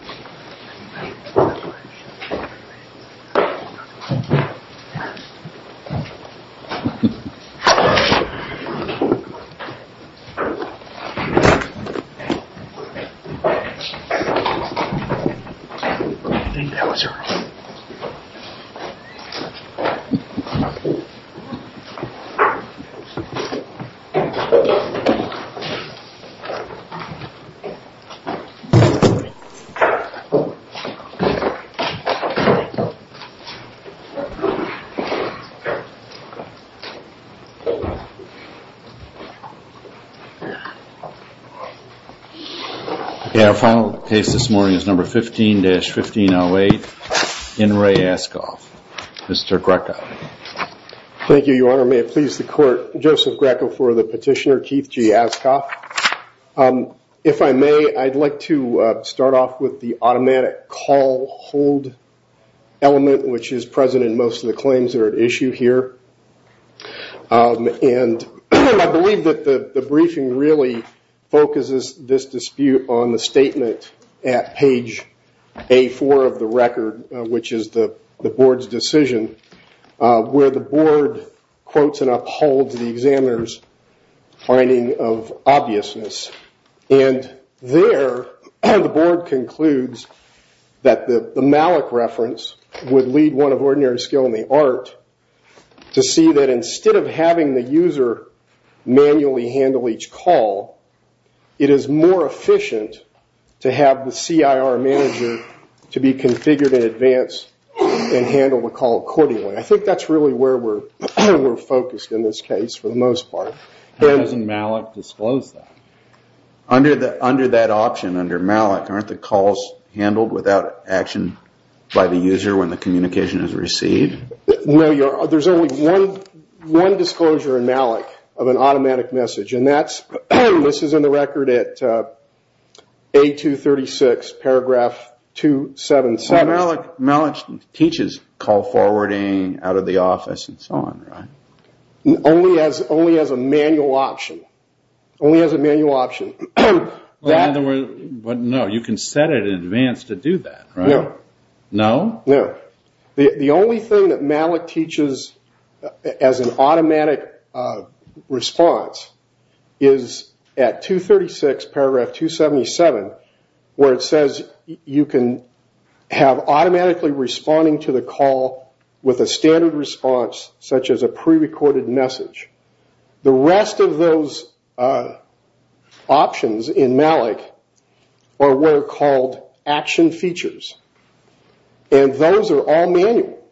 I think that was your room. Okay, our final case this morning is number 15-1508, N. Ray Askoff, Mr. Greco. Thank you, your honor. May it please the court, Joseph Greco for the petitioner, Keith G. Askoff. If I may, I'd like to start off with the automatic call hold element, which is present in most of the claims that are at issue here. I believe that the briefing really focuses this dispute on the statement at page A4 of the record, which is the board's decision. Where the board quotes and upholds the examiner's finding of obviousness. And there, the board concludes that the Malik reference would lead one of ordinary skill in the art to see that instead of having the user manually handle each call, it is more efficient to have the CIR manager to be configured in advance and handle the call accordingly. I think that's really where we're focused in this case for the most part. How does Malik disclose that? Under that option, under Malik, aren't the calls handled without action by the user when the communication is received? There's only one disclosure in Malik of an automatic message. And that's, this is in the record at A236 paragraph 277. Malik teaches call forwarding out of the office and so on, right? Only as a manual option. Only as a manual option. No, you can set it in advance to do that, right? No. No? No. The only thing that Malik teaches as an automatic response is at 236 paragraph 277 where it says you can have automatically responding to the call with a standard response such as a pre-recorded message. The rest of those options in Malik are what are called action features. And those are all manual.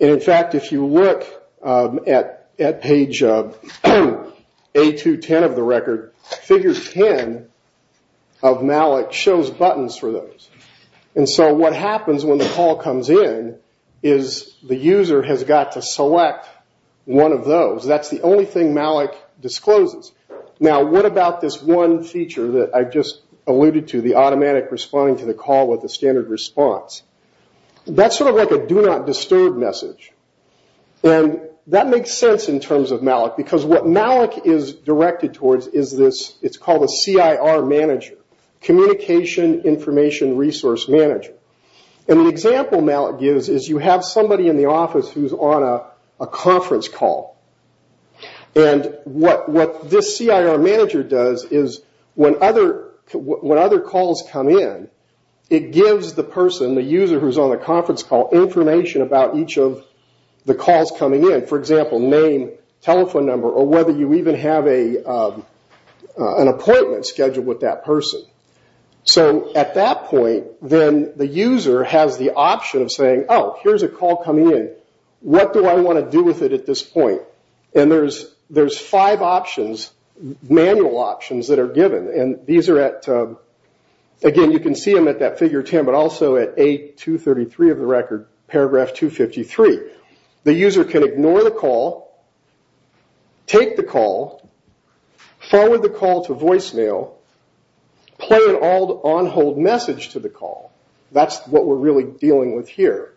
And in fact, if you look at page A210 of the record, figure 10 of Malik shows buttons for those. And so what happens when the call comes in is the user has got to select one of those. That's the only thing Malik discloses. Now, what about this one feature that I just alluded to, the automatic responding to the call with a standard response? That's sort of like a do not disturb message. And that makes sense in terms of Malik because what Malik is directed towards is this, it's called a CIR manager, communication information resource manager. And the example Malik gives is you have somebody in the office who's on a conference call. And what this CIR manager does is when other calls come in, it gives the person, the user who's on the conference call, information about each of the calls coming in. For example, name, telephone number, or whether you even have an appointment scheduled with that person. So at that point, then the user has the option of saying, oh, here's a call coming in. What do I want to do with it at this point? And there's five options, manual options, that are given. And these are at, again, you can see them at that figure 10, but also at A233 of the record, paragraph 253. The user can ignore the call, take the call, forward the call to voicemail, play an on-hold message to the call. That's what we're really dealing with here.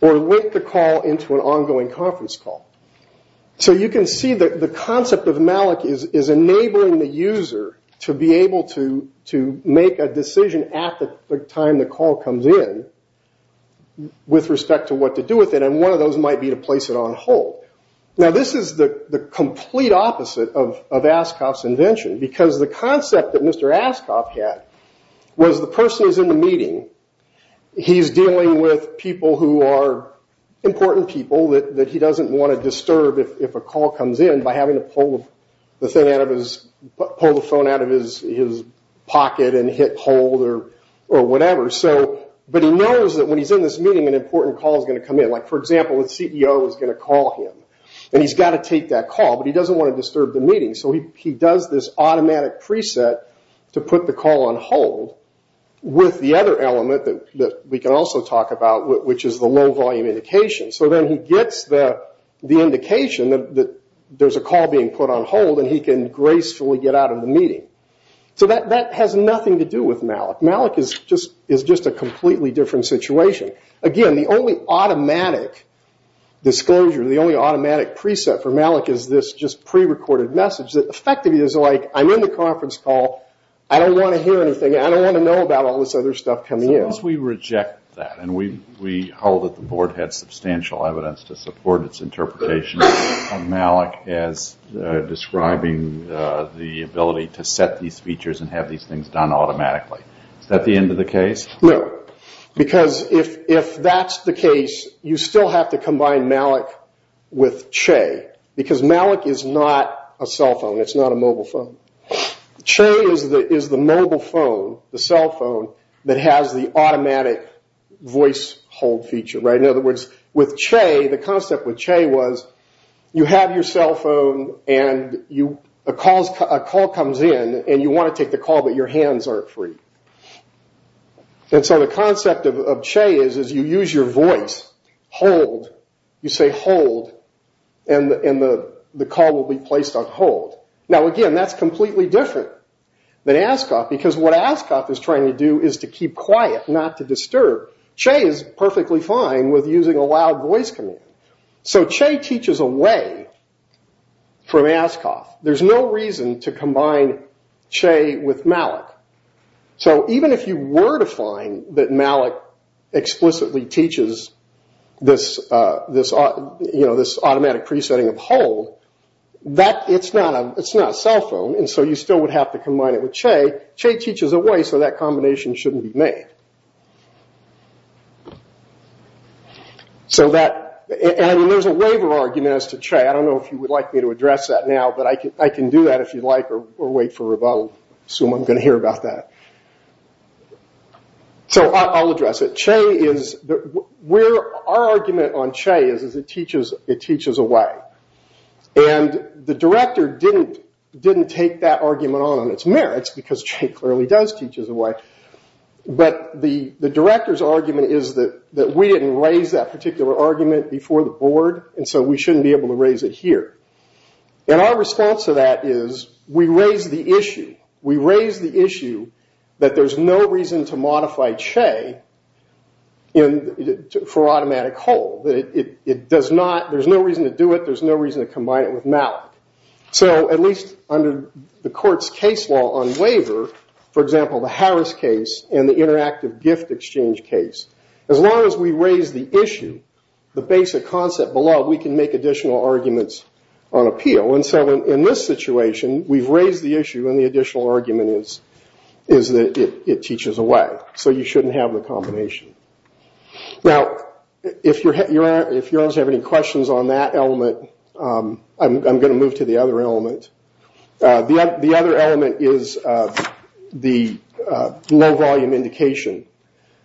Or link the call into an ongoing conference call. So you can see that the concept of Malik is enabling the user to be able to make a decision at the time the call comes in with respect to what to do with it. And one of those might be to place it on hold. Now this is the complete opposite of Ascoff's invention. Because the concept that Mr. Ascoff had was the person is in the meeting. He's dealing with people who are important people that he doesn't want to disturb if a call comes in by having to pull the phone out of his pocket and hit hold or whatever. But he knows that when he's in this meeting, an important call is going to come in. Like, for example, the CEO is going to call him. And he's got to take that call, but he doesn't want to disturb the meeting. So he does this automatic preset to put the call on hold with the other element that we can also talk about, which is the low volume indication. So then he gets the indication that there's a call being put on hold, and he can gracefully get out of the meeting. So that has nothing to do with Malik. Malik is just a completely different situation. Again, the only automatic disclosure, the only automatic preset for Malik is this just pre-recorded message that effectively is like, I'm in the conference call, I don't want to hear anything, I don't want to know about all this other stuff coming in. Suppose we reject that and we hold that the board had substantial evidence to support its interpretation of Malik as describing the ability to set these features and have these things done automatically. Is that the end of the case? No, because if that's the case, you still have to combine Malik with Che, because Malik is not a cell phone. It's not a mobile phone. Che is the mobile phone, the cell phone, that has the automatic voice hold feature. In other words, with Che, the concept with Che was you have your cell phone and a call comes in and you want to take the call, but your hands aren't free. So the concept of Che is you use your voice, hold, you say hold, and the call will be placed on hold. Now again, that's completely different than Ascoff, because what Ascoff is trying to do is to keep quiet, not to disturb. Che is perfectly fine with using a loud voice command. So Che teaches away from Ascoff. There's no reason to combine Che with Malik. So even if you were to find that Malik explicitly teaches this automatic pre-setting of hold, it's not a cell phone, so you still would have to combine it with Che. Che teaches away, so that combination shouldn't be made. There's a waiver argument as to Che. I don't know if you would like me to address that now, but I can do that if you'd like, or wait for a rebuttal. I assume I'm going to hear about that. So I'll address it. Our argument on Che is it teaches away. The director didn't take that argument on its merits, because Che clearly does teach us away. But the director's argument is that we didn't raise that particular argument before the board, and so we shouldn't be able to raise it here. Our response to that is we raise the issue. We raise the issue that there's no reason to modify Che for automatic hold. There's no reason to do it. There's no reason to combine it with Malik. So at least under the court's case law on waiver, for example, the Harris case and the interactive gift exchange case, as long as we raise the issue, the basic concept below, we can make additional arguments on appeal. And so in this situation, we've raised the issue, and the additional argument is that it teaches away. So you shouldn't have the combination. Now, if you guys have any questions on that element, I'm going to move to the other element. The other element is the low volume indication.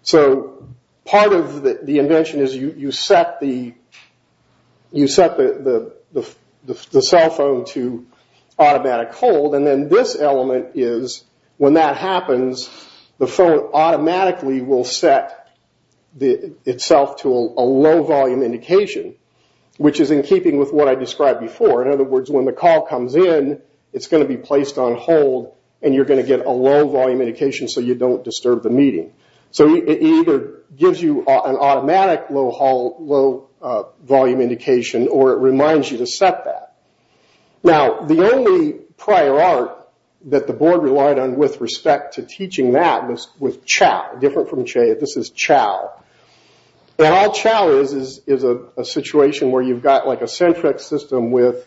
So part of the invention is you set the cell phone to automatic hold, and then this element is when that happens, the phone automatically will set itself to a low volume indication, which is in keeping with what I described before. In other words, when the call comes in, it's going to be placed on hold, and you're going to get a low volume indication so you don't disturb the meeting. So it either gives you an automatic low volume indication, or it reminds you to set that. Now, the only prior art that the board relied on with respect to teaching that was with Chao. This is Chao. And all Chao is is a situation where you've got like a centric system that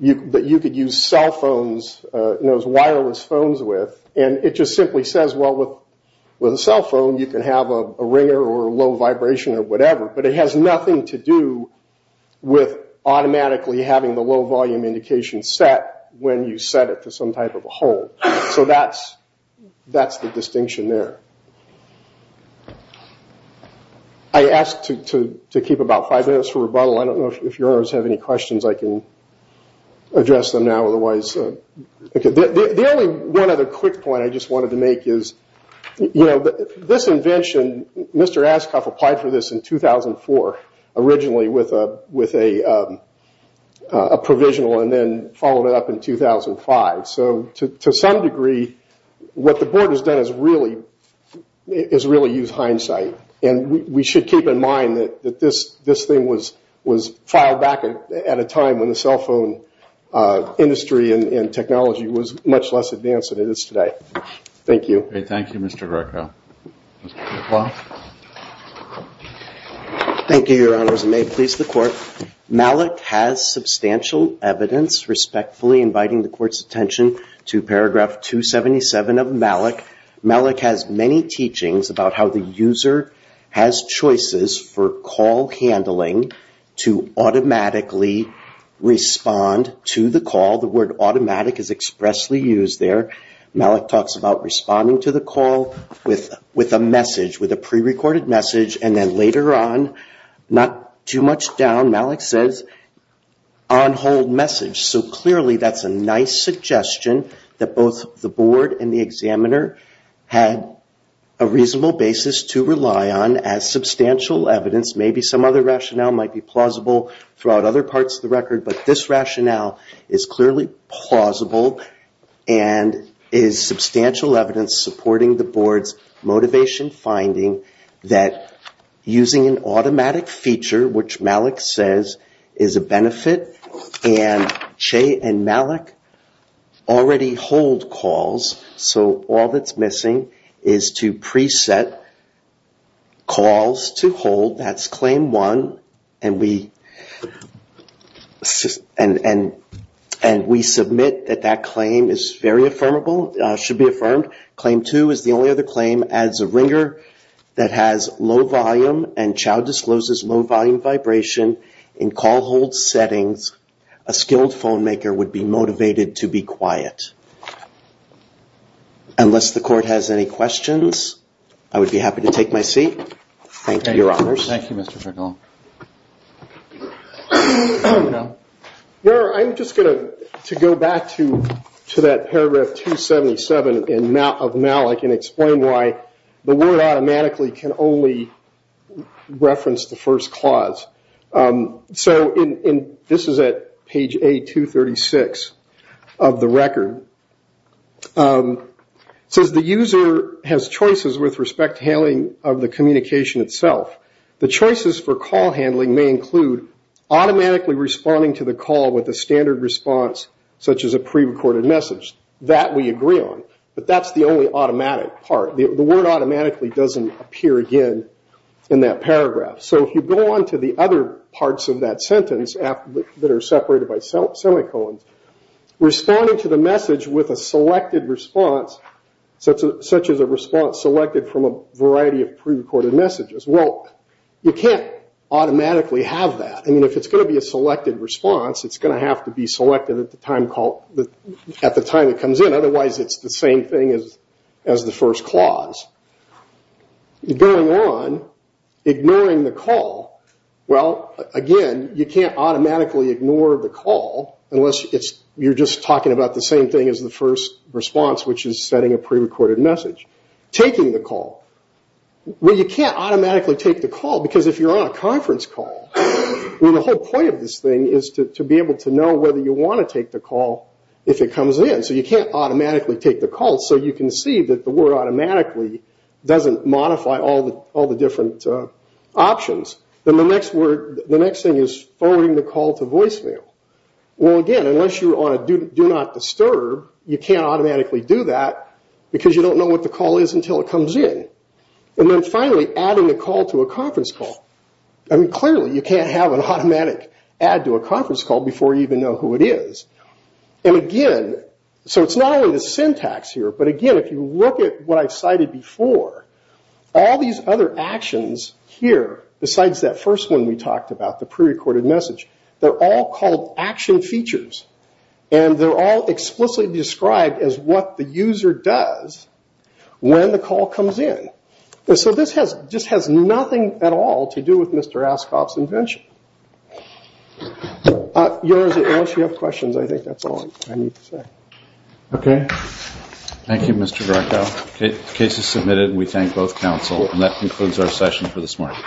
you could use cell phones, those wireless phones with, and it just simply says, well, with a cell phone, you can have a ringer or a low vibration or whatever, but it has nothing to do with automatically having the low volume indication set when you set it to some type of a hold. So that's the distinction there. I ask to keep about five minutes for rebuttal. I don't know if your honors have any questions. I can address them now, otherwise. The only one other quick point I just wanted to make is this invention, and Mr. Ascoff applied for this in 2004, originally with a provisional, and then followed it up in 2005. So to some degree, what the board has done is really use hindsight, and we should keep in mind that this thing was filed back at a time when the cell phone industry and technology was much less advanced than it is today. Thank you. Okay, thank you, Mr. Greco. Mr. McLaughlin. Thank you, your honors, and may it please the Court. Malik has substantial evidence respectfully inviting the Court's attention to paragraph 277 of Malik. Malik has many teachings about how the user has choices for call handling to automatically respond to the call. The word automatic is expressly used there. Malik talks about responding to the call with a message, with a prerecorded message, and then later on, not too much down, Malik says, on hold message. So clearly that's a nice suggestion that both the board and the examiner had a reasonable basis to rely on as substantial evidence. Maybe some other rationale might be plausible throughout other parts of the record, but this rationale is clearly plausible and is substantial evidence supporting the board's motivation finding that using an automatic feature, which Malik says is a benefit, and Che and Malik already hold calls, so all that's missing is to preset calls to hold. That's claim one, and we submit that that claim is very affirmable, should be affirmed. Claim two is the only other claim, as a ringer that has low volume and child discloses low volume vibration in call hold settings, a skilled phone maker would be motivated to be quiet. Unless the Court has any questions, I would be happy to take my seat. Thank you, Your Honors. Thank you, Mr. Tregello. I'm just going to go back to that paragraph 277 of Malik and explain why the word automatically can only reference the first clause. So this is at page A236 of the record. It says the user has choices with respect to handling of the communication itself. The choices for call handling may include automatically responding to the call with a standard response such as a pre-recorded message. That we agree on, but that's the only automatic part. The word automatically doesn't appear again in that paragraph. So if you go on to the other parts of that sentence that are separated by semicolons, responding to the message with a selected response, such as a response selected from a variety of pre-recorded messages, well, you can't automatically have that. I mean, if it's going to be a selected response, it's going to have to be selected at the time it comes in. Otherwise, it's the same thing as the first clause. Going on, ignoring the call, well, again, you can't automatically ignore the call unless you're just talking about the same thing as the first response, which is setting a pre-recorded message. Taking the call, well, you can't automatically take the call because if you're on a conference call, the whole point of this thing is to be able to know whether you want to take the call if it comes in. So you can't automatically take the call. So you can see that the word automatically doesn't modify all the different options. Then the next thing is forwarding the call to voicemail. Well, again, unless you're on a do not disturb, you can't automatically do that because you don't know what the call is until it comes in. And then finally, adding a call to a conference call. I mean, clearly, you can't have an automatic add to a conference call before you even know who it is. And again, so it's not only the syntax here, but again, if you look at what I've cited before, all these other actions here, besides that first one we talked about, the pre-recorded message, they're all called action features. And they're all explicitly described as what the user does when the call comes in. So this has nothing at all to do with Mr. Askoff's invention. Unless you have questions, I think that's all I need to say. Okay. Thank you, Mr. Greco. The case is submitted, and we thank both counsel. And that concludes our session for this morning.